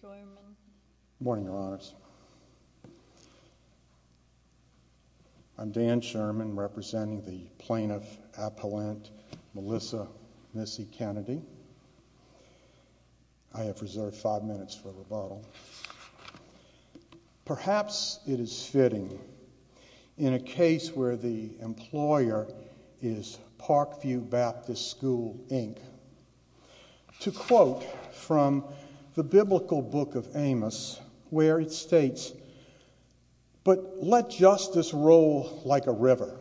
Good morning, Your Honors. I'm Dan Sherman, representing the Plaintiff Appellant Melissa Missy Kennedy. I have reserved five minutes for rebuttal. Perhaps it is fitting, in a case where the employer is Parkview Baptist School, Inc., to quote from the biblical book of Amos, where it states, "'But let justice roll like a river,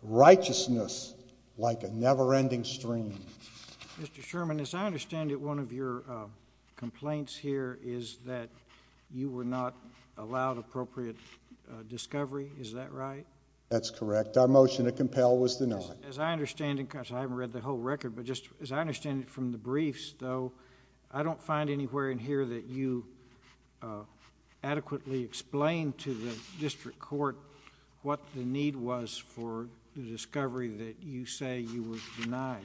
righteousness like a never-ending stream.'" Mr. Sherman, as I understand it, one of your complaints here is that you were not allowed appropriate discovery. Is that right? That's correct. Our motion to compel was denied. As I understand it, because I haven't read the whole record, but just as I understand it from the briefs, though, I don't find anywhere in here that you adequately explained to the district court what the need was for the discovery that you say you were denied.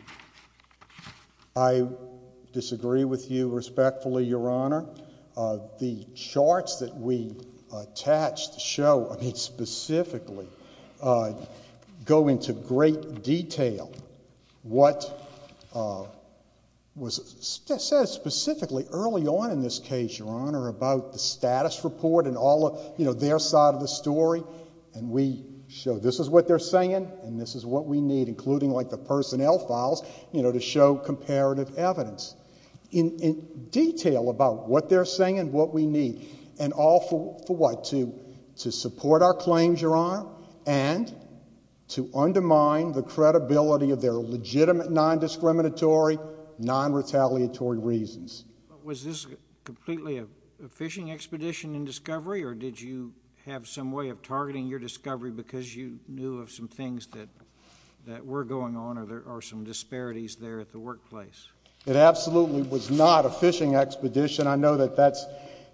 I disagree with you respectfully, Your Honor. The charts that we attach to show specifically go into great detail what was said specifically early on in this case, Your Honor, about the status report and their side of the story. We show this is what they're saying and this is what we need, including the personnel files, to show comparative evidence. In detail about what they're saying and what we need, and all for what? To support our claims, Your Honor, and to undermine the credibility of their legitimate non-discriminatory, non-retaliatory reasons. Was this completely a fishing expedition in discovery, or did you have some way of targeting your discovery because you knew of some things that were going on or there are some disparities there at the workplace? It absolutely was not a fishing expedition. I know that that's,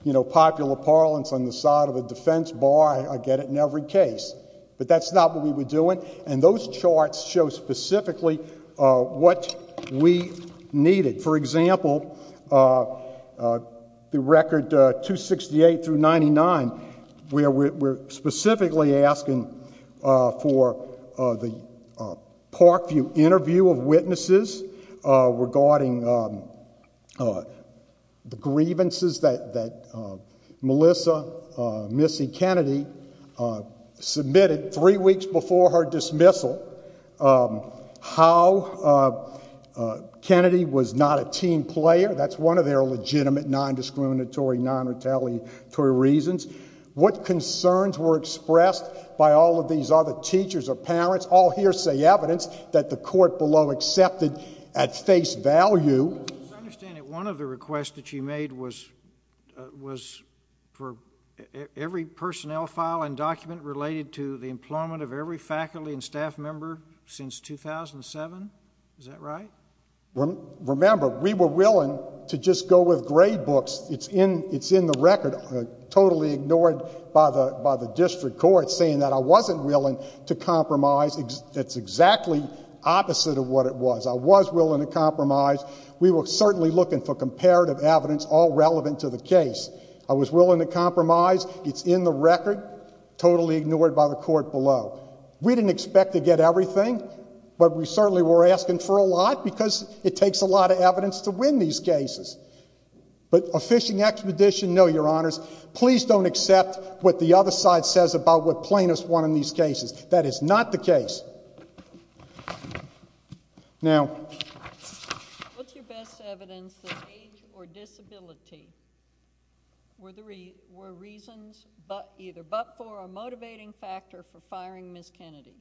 you know, popular parlance on the side of a defense bar, I get it in every case, but that's not what we were doing. And those charts show specifically what we needed. For example, the record 268 through 99, where we're specifically asking for the Parkview interview of witnesses regarding the grievances that Melissa Missy Kennedy submitted three weeks before her dismissal, how Kennedy was not a team player, that's one of their legitimate non-discriminatory, non-retaliatory reasons, what concerns were expressed by all of these other teachers or parents, all hearsay evidence that the court below accepted at face value. I understand that one of the requests that you made was for every personnel file and document related to the employment of every faculty and staff member since 2007, is that right? Remember, we were willing to just go with grade books. It's in the record, totally ignored by the district court saying that I wasn't willing to compromise. That's exactly opposite of what it was. I was willing to compromise. We were certainly looking for comparative evidence all relevant to the case. I was willing to compromise. It's in the record, totally ignored by the court below. We didn't expect to get everything, but we certainly were asking for a lot because it takes a lot of evidence to win these cases. But a fishing expedition, no, your honors, please don't accept what the other side says about what plaintiffs won in these cases. That is not the case. Now... What's your best evidence that age or disability were reasons either but for a motivating factor for firing Ms. Kennedy?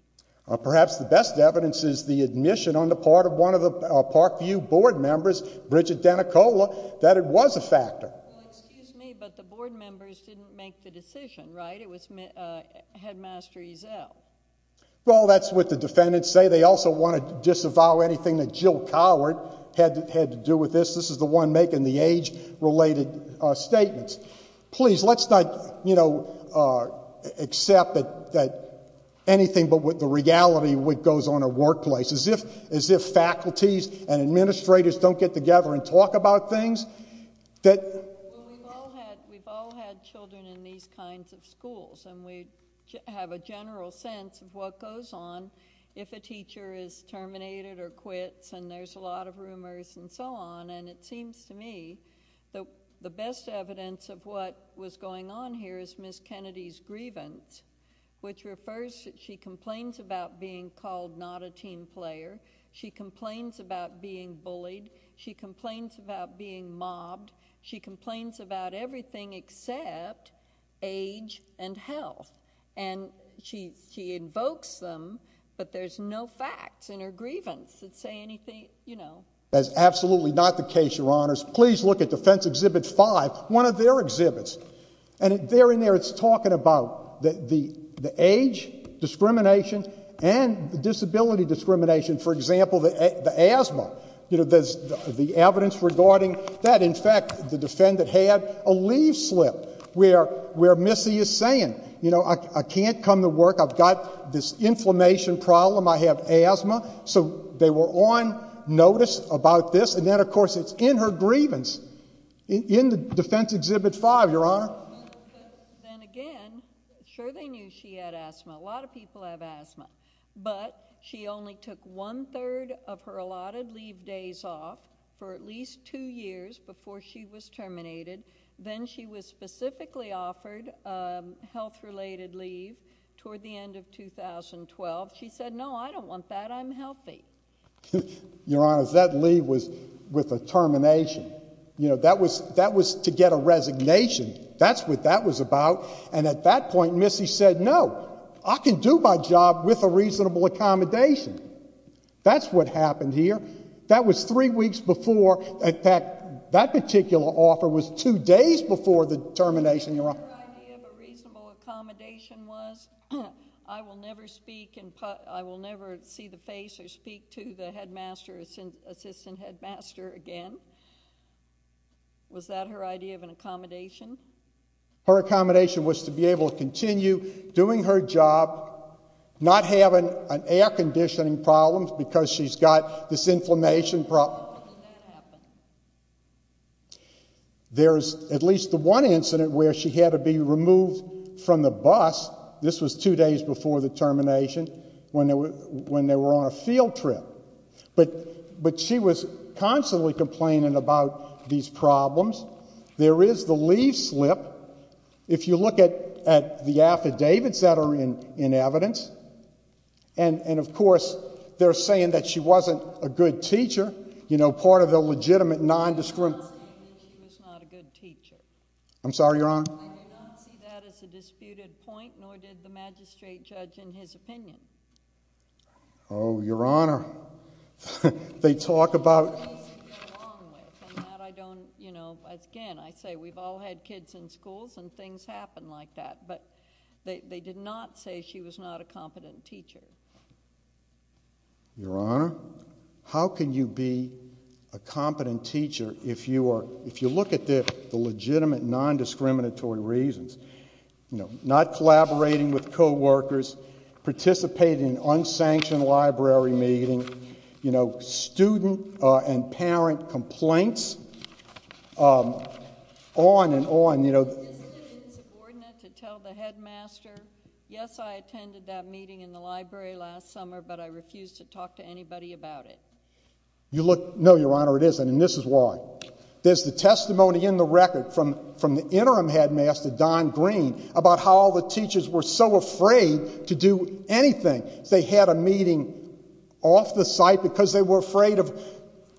Perhaps the best evidence is the admission on the part of one of the Parkview board members, Bridget Denicola, that it was a factor. Well, excuse me, but the board members didn't make the decision, right? It was Headmaster Ezell. Well, that's what the defendants say. They also want to disavow anything that Jill Coward had to do with this. This is the one making the age-related statements. Please, let's not, you know, accept that anything but the reality goes on in the workplace. It's as if faculties and administrators don't get together and talk about things that... Well, we've all had children in these kinds of schools, and we have a general sense of what goes on if a teacher is terminated or quits, and there's a lot of rumors and so on. And it seems to me that the best evidence of what was going on here is Ms. Kennedy's She complains about being bullied. She complains about being mobbed. She complains about everything except age and health. And she invokes them, but there's no facts in her grievance that say anything, you know. That's absolutely not the case, Your Honors. Please look at Defense Exhibit 5, one of their exhibits, and there and there it's talking about the age discrimination and the disability discrimination. For example, the asthma, you know, there's the evidence regarding that. In fact, the defendant had a leaf slip where Missy is saying, you know, I can't come to work. I've got this inflammation problem. I have asthma. So they were on notice about this, and then, of course, it's in her grievance in the Defense Exhibit 5, Your Honor. Then again, sure they knew she had asthma. A lot of people have asthma. But she only took one-third of her allotted leave days off for at least two years before she was terminated. Then she was specifically offered health-related leave toward the end of 2012. She said, no, I don't want that. I'm healthy. Your Honors, that leave was with a termination. You know, that was to get a resignation. That's what that was about. And at that point, Missy said, no, I can do my job with a reasonable accommodation. That's what happened here. That was three weeks before, in fact, that particular offer was two days before the termination, Your Honor. Your idea of a reasonable accommodation was, I will never speak, I will never see the face of the headmaster speak to the headmaster, assistant headmaster again? Was that her idea of an accommodation? Her accommodation was to be able to continue doing her job, not having an air-conditioning problem because she's got this inflammation problem. When did that happen? There's at least the one incident where she had to be removed from the bus. This was two days before the termination, when they were on a field trip. But she was constantly complaining about these problems. There is the leave slip. If you look at the affidavits that are in evidence, and of course, they're saying that she wasn't a good teacher, you know, part of the legitimate non-discriminatory... I'm not saying that she was not a good teacher. I'm sorry, Your Honor? I do not see that as a disputed point, nor did the magistrate judge in his opinion. Oh, Your Honor. They talk about... That's the only place they get along with, and that I don't, you know, again, I say we've all had kids in schools and things happen like that, but they did not say she was not a competent teacher. Your Honor, how can you be a competent teacher if you look at the legitimate non-discriminatory reasons? You know, not collaborating with co-workers, participating in an unsanctioned library meeting, you know, student and parent complaints, on and on, you know... Isn't it insubordinate to tell the headmaster, yes, I attended that meeting in the library last summer, but I refused to talk to anybody about it? You look... No, Your Honor, it isn't. And this is why. There's the testimony in the record from the interim headmaster, Don Green, about how all the teachers were so afraid to do anything. They had a meeting off the site because they were afraid of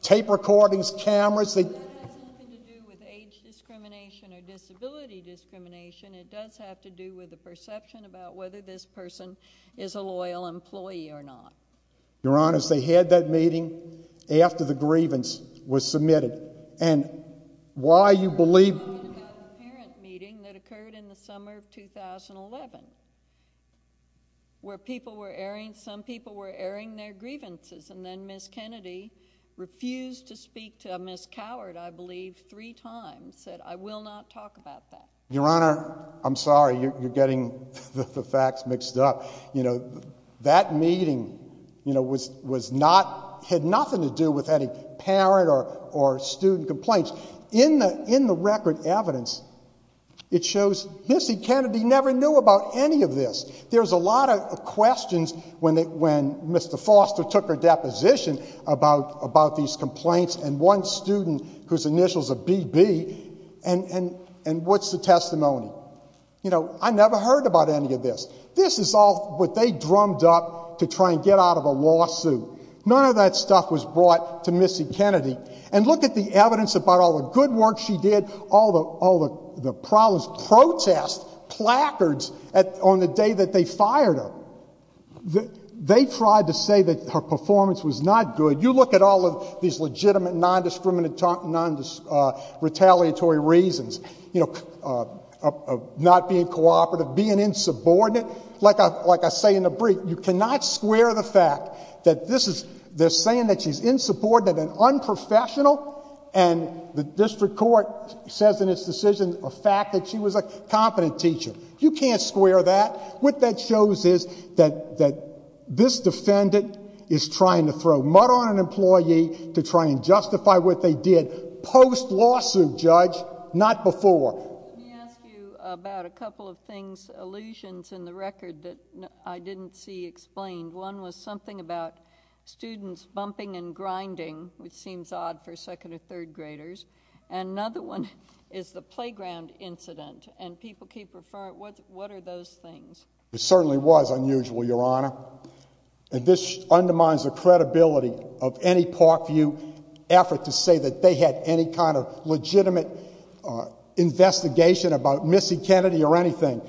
tape recordings, cameras. That has nothing to do with age discrimination or disability discrimination. It does have to do with the perception about whether this person is a loyal employee or not. Your Honor, they had that meeting after the grievance was submitted. And why you believe...... parent meeting that occurred in the summer of 2011, where people were airing, some people were airing their grievances, and then Ms. Kennedy refused to speak to Ms. Coward, I believe, three times, said, I will not talk about that. Your Honor, I'm sorry, you're getting the facts mixed up. That meeting had nothing to do with any parent or student complaints. In the record evidence, it shows Ms. Kennedy never knew about any of this. There's a lot of questions when Mr. Foster took her deposition about these complaints and one student whose initials are BB, and what's the testimony? I never heard about any of this. This is all what they drummed up to try and get out of a lawsuit. None of that stuff was brought to Missy Kennedy. And look at the evidence about all the good work she did, all the problems, protests, placards on the day that they fired her. They tried to say that her performance was not good. You look at all of these legitimate, non-discriminatory reasons, you know, not being cooperative, being insubordinate, like I say in the brief, you cannot square the fact that they're saying that she's insubordinate and unprofessional, and the district court says in its decision the fact that she was a competent teacher. You can't square that. What that shows is that this defendant is trying to throw mud on an employee to try and justify what they did post-lawsuit, Judge, not before. Let me ask you about a couple of things, allusions in the record that I didn't see explained. One was something about students bumping and grinding, which seems odd for second or third graders, and another one is the playground incident, and people keep referring, what are those things? It certainly was unusual, Your Honor. And this undermines the credibility of any Parkview effort to say that they had any kind of legitimate investigation about Missy Kennedy or anything.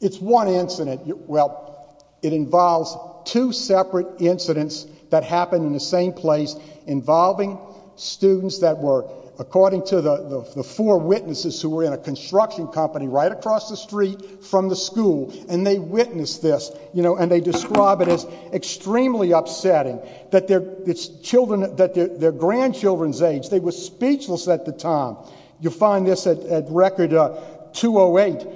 It's one incident, well, it involves two separate incidents that happened in the same place involving students that were, according to the four witnesses who were in a construction company right across the street from the school, and they witnessed this, you know, and they describe it as extremely upsetting, that their grandchildren's age, they were speechless at the time. You'll find this at Record 208.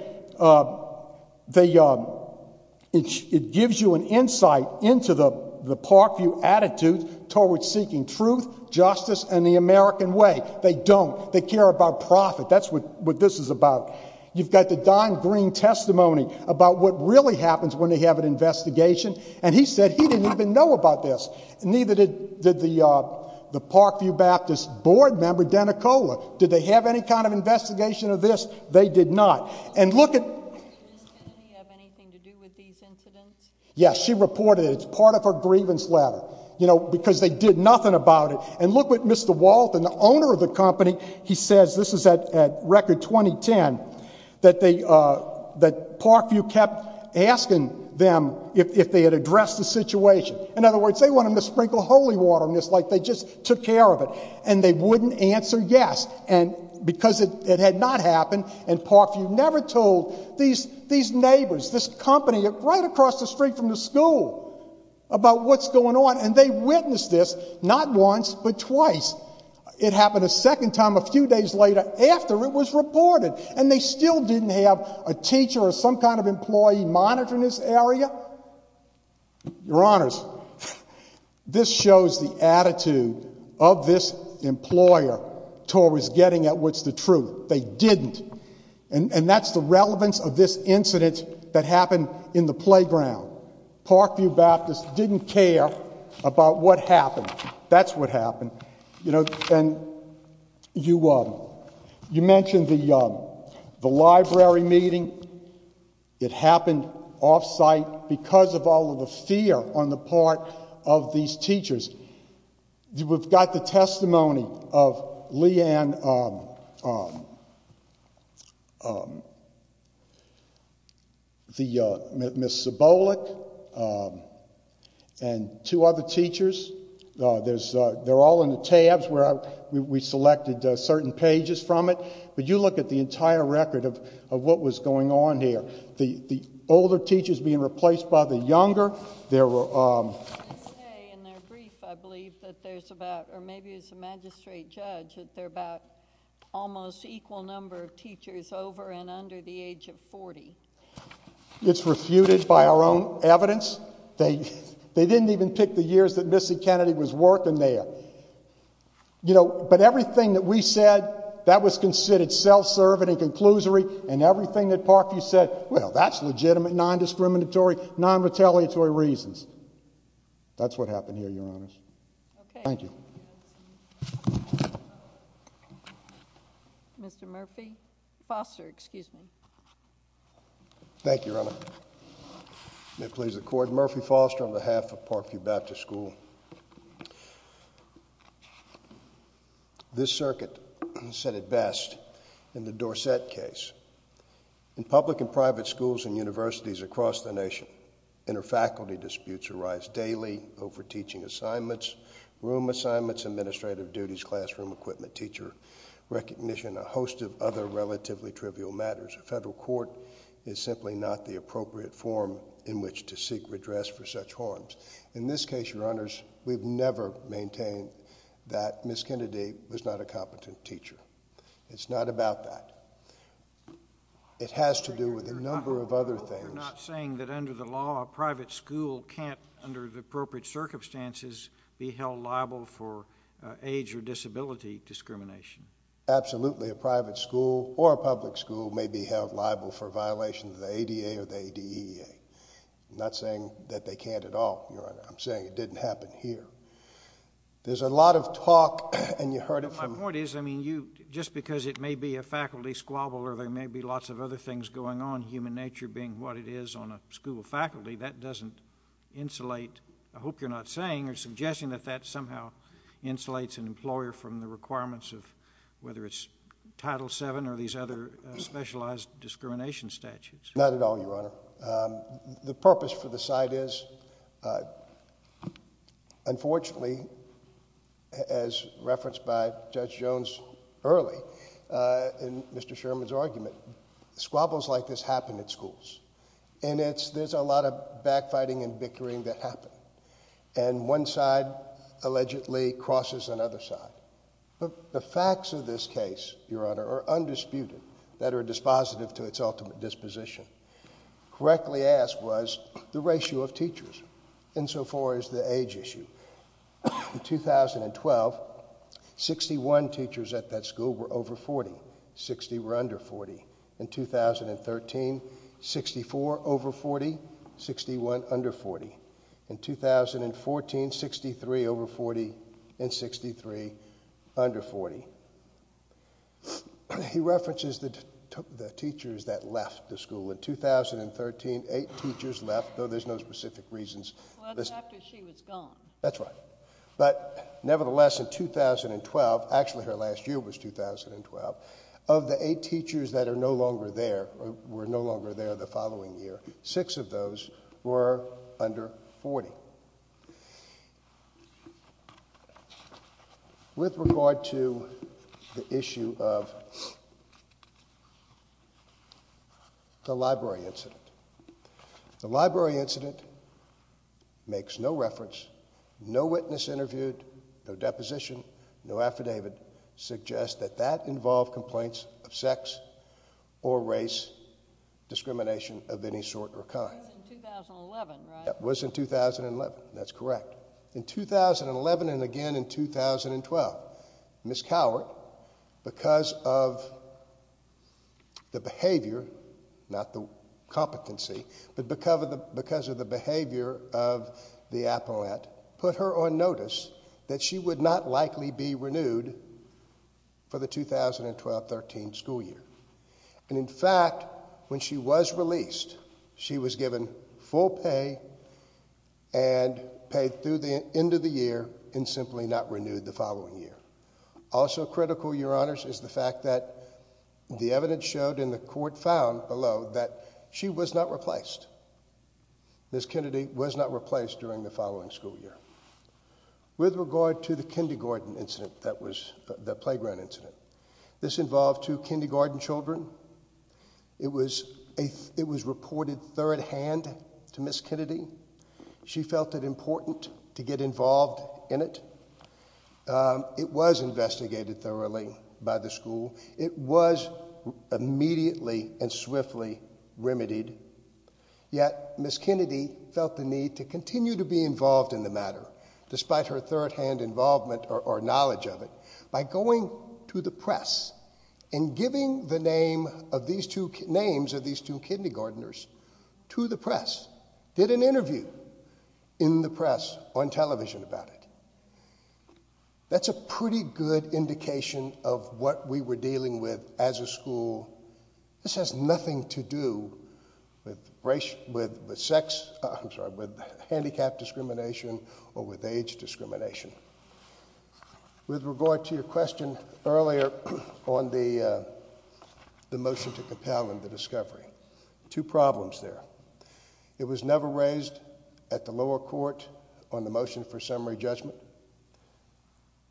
It gives you an insight into the Parkview attitude toward seeking truth, justice, and the American way. They don't. They care about profit. That's what this is about. You've got the Don Green testimony about what really happens when they have an investigation, and he said he didn't even know about this, and neither did the Parkview Baptist board member, Danicola. Did they have any kind of investigation of this? They did not. And look at... Did Miss Kennedy have anything to do with these incidents? Yes. She reported it. It's part of her grievance letter. You know, because they did nothing about it. And look what Mr. Walt and the owner of the company, he says, this is at Record 2010, that Parkview kept asking them if they had addressed the situation. In other words, they want them to sprinkle holy water on this like they just took care of it. And they wouldn't answer yes. And because it had not happened, and Parkview never told these neighbors, this company right across the street from the school about what's going on, and they witnessed this not once but twice. It happened a second time a few days later after it was reported. And they still didn't have a teacher or some kind of employee monitoring this area? Your Honors, this shows the attitude of this employer towards getting at what's the truth. They didn't. And that's the relevance of this incident that happened in the playground. Parkview Baptist didn't care about what happened. That's what happened. You know, and you mentioned the library meeting. It happened off-site because of all of the fear on the part of these teachers. We've got the testimony of Lee Ann, Ms. Sibolic, and two other teachers. They're all in the tabs where we selected certain pages from it. But you look at the entire record of what was going on here. The older teachers being replaced by the younger. There were... I was going to say, in their brief, I believe that there's about, or maybe it's the magistrate judge, that there are about almost equal number of teachers over and under the age of 40. It's refuted by our own evidence. They didn't even pick the years that Missy Kennedy was working there. You know, but everything that we said, that was considered self-serving and conclusory. And everything that Parkview said, well, that's legitimate, non-discriminatory, non-retaliatory reasons. That's what happened here, Your Honors. Thank you. Mr. Murphy. Foster, excuse me. Thank you, Your Honor. May it please the Court. Murphy Foster on behalf of Parkview Baptist School. This circuit said it best in the Dorset case. In public and private schools and universities across the nation, inter-faculty disputes arise daily over teaching assignments, room assignments, administrative duties, classroom equipment, teacher recognition, a host of other relatively trivial matters. A federal court is simply not the appropriate forum in which to seek redress for such harms. In this case, Your Honors, we've never maintained that Miss Kennedy was not a competent teacher. It's not about that. It has to do with a number of other things. You're not saying that under the law, a private school can't, under the appropriate circumstances, be held liable for age or disability discrimination? Absolutely. A private school or a public school may be held liable for violations of the ADA or the ADEA. I'm not saying that they can't at all, Your Honor. I'm saying it didn't happen here. There's a lot of talk, and you heard it from— My point is, I mean, you, just because it may be a faculty squabble or there may be lots of other things going on, human nature being what it is on a school faculty, that doesn't insulate—I hope you're not saying or suggesting that that somehow insulates an employer from the requirements of whether it's Title VII or these other specialized discrimination statutes. Not at all, Your Honor. The purpose for the side is, unfortunately, as referenced by Judge Jones early in Mr. Sherman's argument, squabbles like this happen at schools, and there's a lot of backfighting and bickering that happen, and one side allegedly crosses another side. The facts of this case, Your Honor, are undisputed, that are dispositive to its ultimate disposition. Correctly asked was the ratio of teachers insofar as the age issue. In 2012, 61 teachers at that school were over 40, 60 were under 40. In 2013, 64 over 40, 61 under 40. In 2014, 63 over 40 and 63 under 40. He references the teachers that left the school. In 2013, eight teachers left, though there's no specific reasons. Well, it was after she was gone. That's right. But nevertheless, in 2012—actually, her last year was 2012—of the eight teachers that were no longer there the following year, six of those were under 40. With regard to the issue of the library incident. The library incident makes no reference, no witness interviewed, no deposition, no affidavit suggests that that involved complaints of sex or race, discrimination of any sort or kind. It was in 2011, right? It was in 2011, that's correct. In 2011 and again in 2012, Ms. Cowart, because of the behavior, not the competency, but because of the behavior of the appellant, put her on notice that she would not likely be renewed for the 2012-13 school year. In fact, when she was released, she was given full pay and paid through the end of the year and simply not renewed the following year. Also critical, your honors, is the fact that the evidence showed and the court found below that she was not replaced. Ms. Kennedy was not replaced during the following school year. With regard to the kindergarten incident that was—the playground incident. This involved two kindergarten children. It was reported third-hand to Ms. Kennedy. She felt it important to get involved in it. It was investigated thoroughly by the school. It was immediately and swiftly remedied, yet Ms. Kennedy felt the need to continue to be involved in the matter, despite her third-hand involvement or knowledge of it, by going to the press and giving the names of these two kindergarteners to the press. Did an interview in the press on television about it. That's a pretty good indication of what we were dealing with as a school. This has nothing to do with sex—I'm sorry—with handicapped discrimination or with age discrimination. With regard to your question earlier on the motion to compel in the discovery. Two problems there. It was never raised at the lower court on the motion for summary judgment.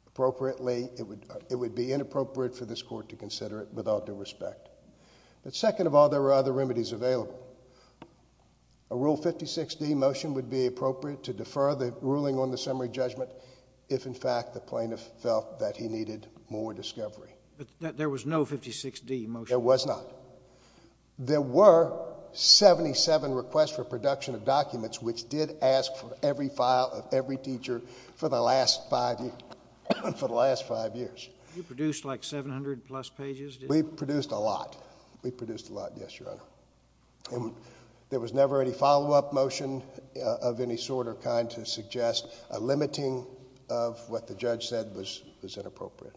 Appropriately, it would be inappropriate for this court to consider it without due respect. But second of all, there were other remedies available. A Rule 56D motion would be appropriate to defer the ruling on the summary judgment if, in fact, the plaintiff felt that he needed more discovery. There was no 56D motion? There was not. There were 77 requests for production of documents, which did ask for every file of every teacher for the last five years. You produced like 700-plus pages, didn't you? We produced a lot. We produced a lot, yes, Your Honor. There was never any follow-up motion of any sort or kind to suggest a limiting of what the judge said was inappropriate.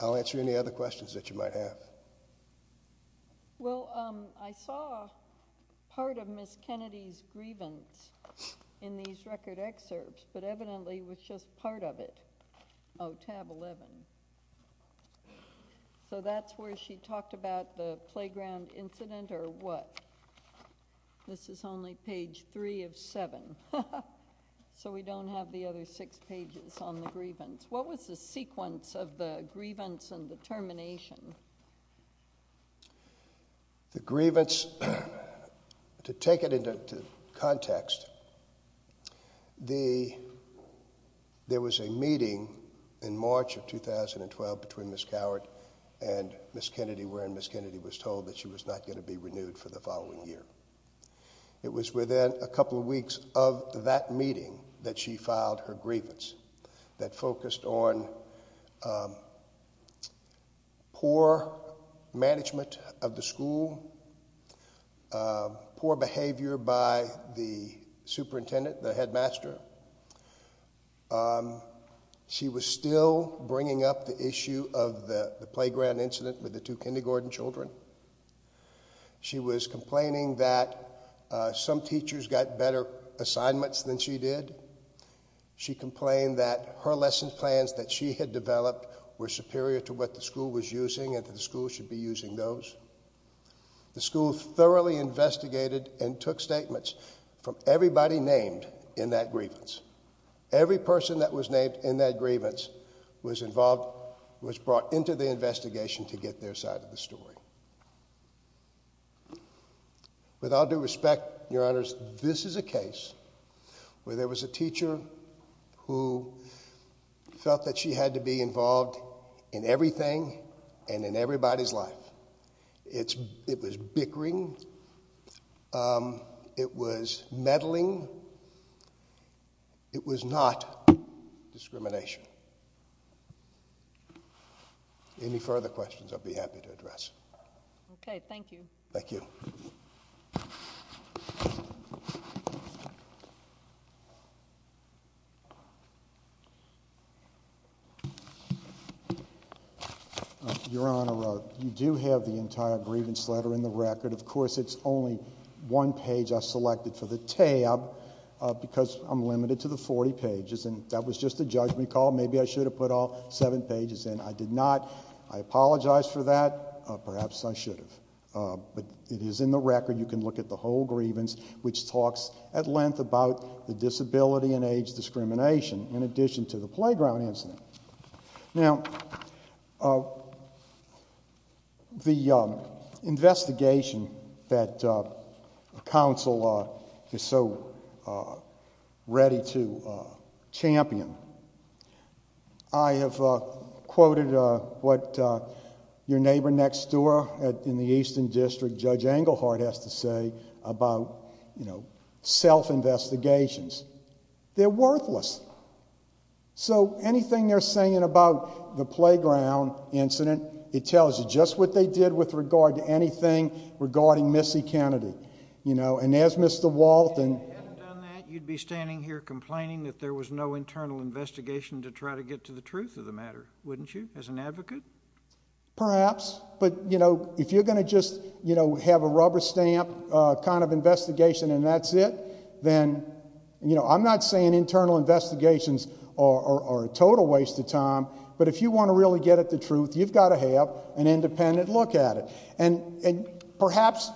I'll answer any other questions that you might have. Well, I saw part of Ms. Kennedy's grievance in these record excerpts, but evidently it was just part of it. Oh, tab 11. So that's where she talked about the playground incident or what? This is only page 3 of 7, so we don't have the other six pages on the grievance. What was the sequence of the grievance and the termination? The grievance, to take it into context, there was a meeting in March of 2012 between Ms. Coward and Ms. Kennedy, wherein Ms. Kennedy was told that she was not going to be renewed for the following year. It was within a couple of weeks of that meeting that she filed her grievance that focused on poor management of the school, poor behavior by the superintendent, the headmaster. She was still bringing up the issue of the playground incident with the two kindergarten children. She was complaining that some teachers got better assignments than she did. She complained that her lesson plans that she had developed were superior to what the school was using and that the school should be using those. The school thoroughly investigated and took statements from everybody named in that grievance. Every person that was named in that grievance was involved, was brought into the investigation to get their side of the story. With all due respect, Your Honors, this is a case where there was a teacher who felt that she had to be involved in everything and in everybody's life. It was bickering. It was meddling. It was not discrimination. Any further questions, I'd be happy to address. Okay. Thank you. Thank you. Your Honor, you do have the entire grievance letter in the record. Of course, it's only one page I selected for the tab because I'm limited to the 40 pages. That was just a judgment call. Maybe I should have put all seven pages in. I did not. I apologize for that. Perhaps I should have. But it is in the record. You can look at the whole grievance, which talks at length about the disability and age discrimination in addition to the playground incident. Now, the investigation that counsel is so ready to champion, I have quoted what your neighbor next door in the Eastern District, Judge Englehart, has to say about self-investigations. They're worthless. So anything they're saying about the playground incident, it tells you just what they did with regard to anything regarding Missy Kennedy. And as Mr. Walton— If you hadn't done that, you'd be standing here complaining that there was no internal investigation to try to get to the truth of the matter, wouldn't you, as an advocate? Perhaps. But if you're going to just have a rubber stamp kind of investigation and that's it, then I'm not saying internal investigations are a total waste of time, but if you want to really get at the truth, you've got to have an independent look at it. And perhaps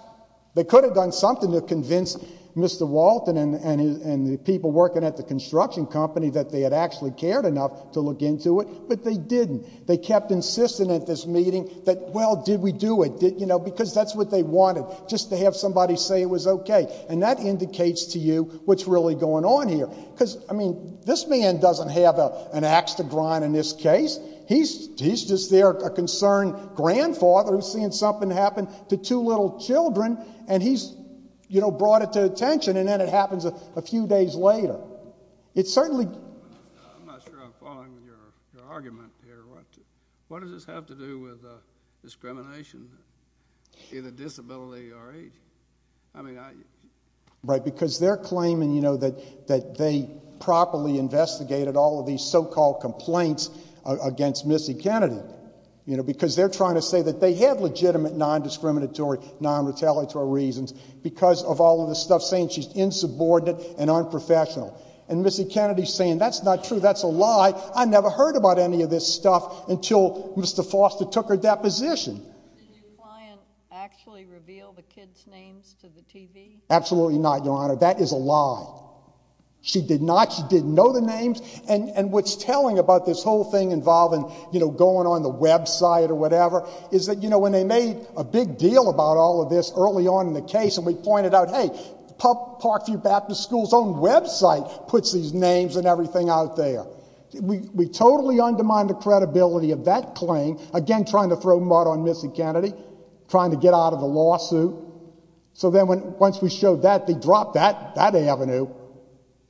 they could have done something to convince Mr. Walton and the people working at the construction company that they had actually cared enough to look into it, but they didn't. They kept insisting at this meeting that, well, did we do it? Because that's what they wanted, just to have somebody say it was okay. And that indicates to you what's really going on here. Because, I mean, this man doesn't have an ax to grind in this case. He's just there, a concerned grandfather who's seeing something happen to two little children, and he's, you know, brought it to attention, and then it happens a few days later. It certainly— I'm not sure I'm following your argument here. What does this have to do with discrimination in a disability or age? Right. Because they're claiming, you know, that they properly investigated all of these so-called complaints against Missy Kennedy, you know, because they're trying to say that they have legitimate non-discriminatory, non-retaliatory reasons because of all of the stuff saying she's insubordinate and unprofessional. And Missy Kennedy's saying, that's not true, that's a lie. I never heard about any of this stuff until Mr. Foster took her deposition. Did your client actually reveal the kids' names to the TV? Absolutely not, Your Honor. That is a lie. She did not. She didn't know the names. And what's telling about this whole thing involving, you know, going on the website or whatever, is that, you know, when they made a big deal about all of this early on in the case, and we pointed out, hey, Parkview Baptist School's own website puts these names and everything out there. We totally undermined the credibility of that claim, again, trying to throw mud on Missy Kennedy, trying to get out of the lawsuit. So then, once we showed that, they dropped that, that avenue,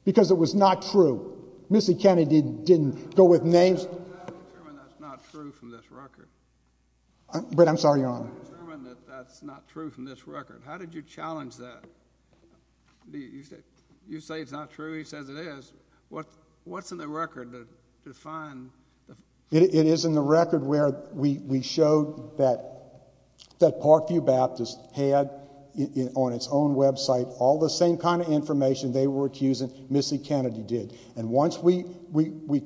because it was not true. Missy Kennedy didn't go with names. How do you determine that's not true from this record? I'm sorry, Your Honor. How do you determine that that's not true from this record? How did you challenge that? You say it's not true. He says it is. What's in the record to define? It is in the record where we showed that Parkview Baptist had on its own website all the same kind of information they were accusing Missy Kennedy did. And once we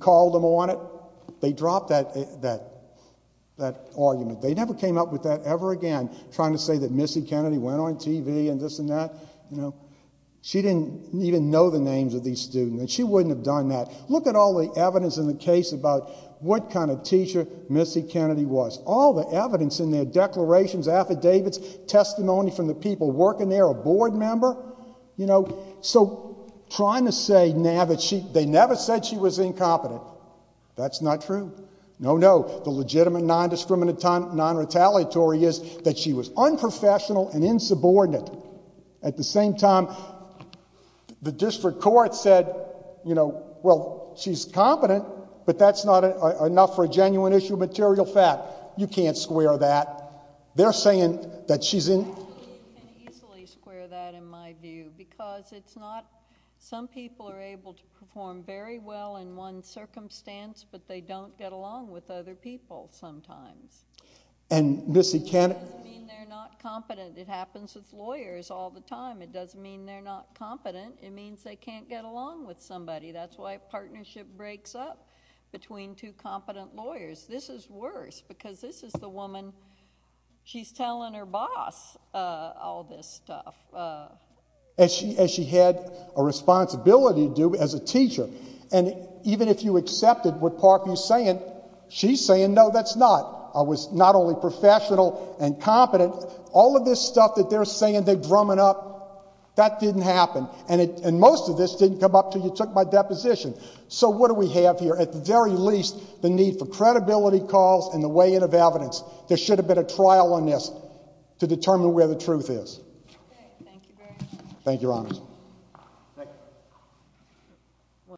called them on it, they dropped that argument. They never came up with that ever again, trying to say that Missy Kennedy went on TV and this and that, you know. She didn't even know the names of these students. She wouldn't have done that. Look at all the evidence in the case about what kind of teacher Missy Kennedy was. All the evidence in their declarations, affidavits, testimony from the people working there, a board member, you know. So, trying to say now that they never said she was incompetent, that's not true. No, no. The legitimate non-discriminatory is that she was unprofessional and insubordinate. At the same time, the district court said, you know, well, she's competent, but that's not enough for a genuine issue of material fact. You can't square that. They're saying that she's in... Actually, you can easily square that in my view, because it's not... some people are able to perform very well in one circumstance, but they don't get along with other people sometimes. And Missy Kennedy... It doesn't mean they're not competent. It means they can't get along with somebody. That's why a partnership breaks up between two competent lawyers. This is worse, because this is the woman... she's telling her boss all this stuff. As she had a responsibility to do as a teacher. And even if you accepted what Parkview's saying, she's saying, no, that's not. I was not only professional and competent. All of this stuff that they're saying they're drumming up, that didn't happen. And most of this didn't come up until you took my deposition. So what do we have here? At the very least, the need for credibility calls and the weighing of evidence. There should have been a trial on this to determine where the truth is. Thank you very much. Thank you, Your Honors.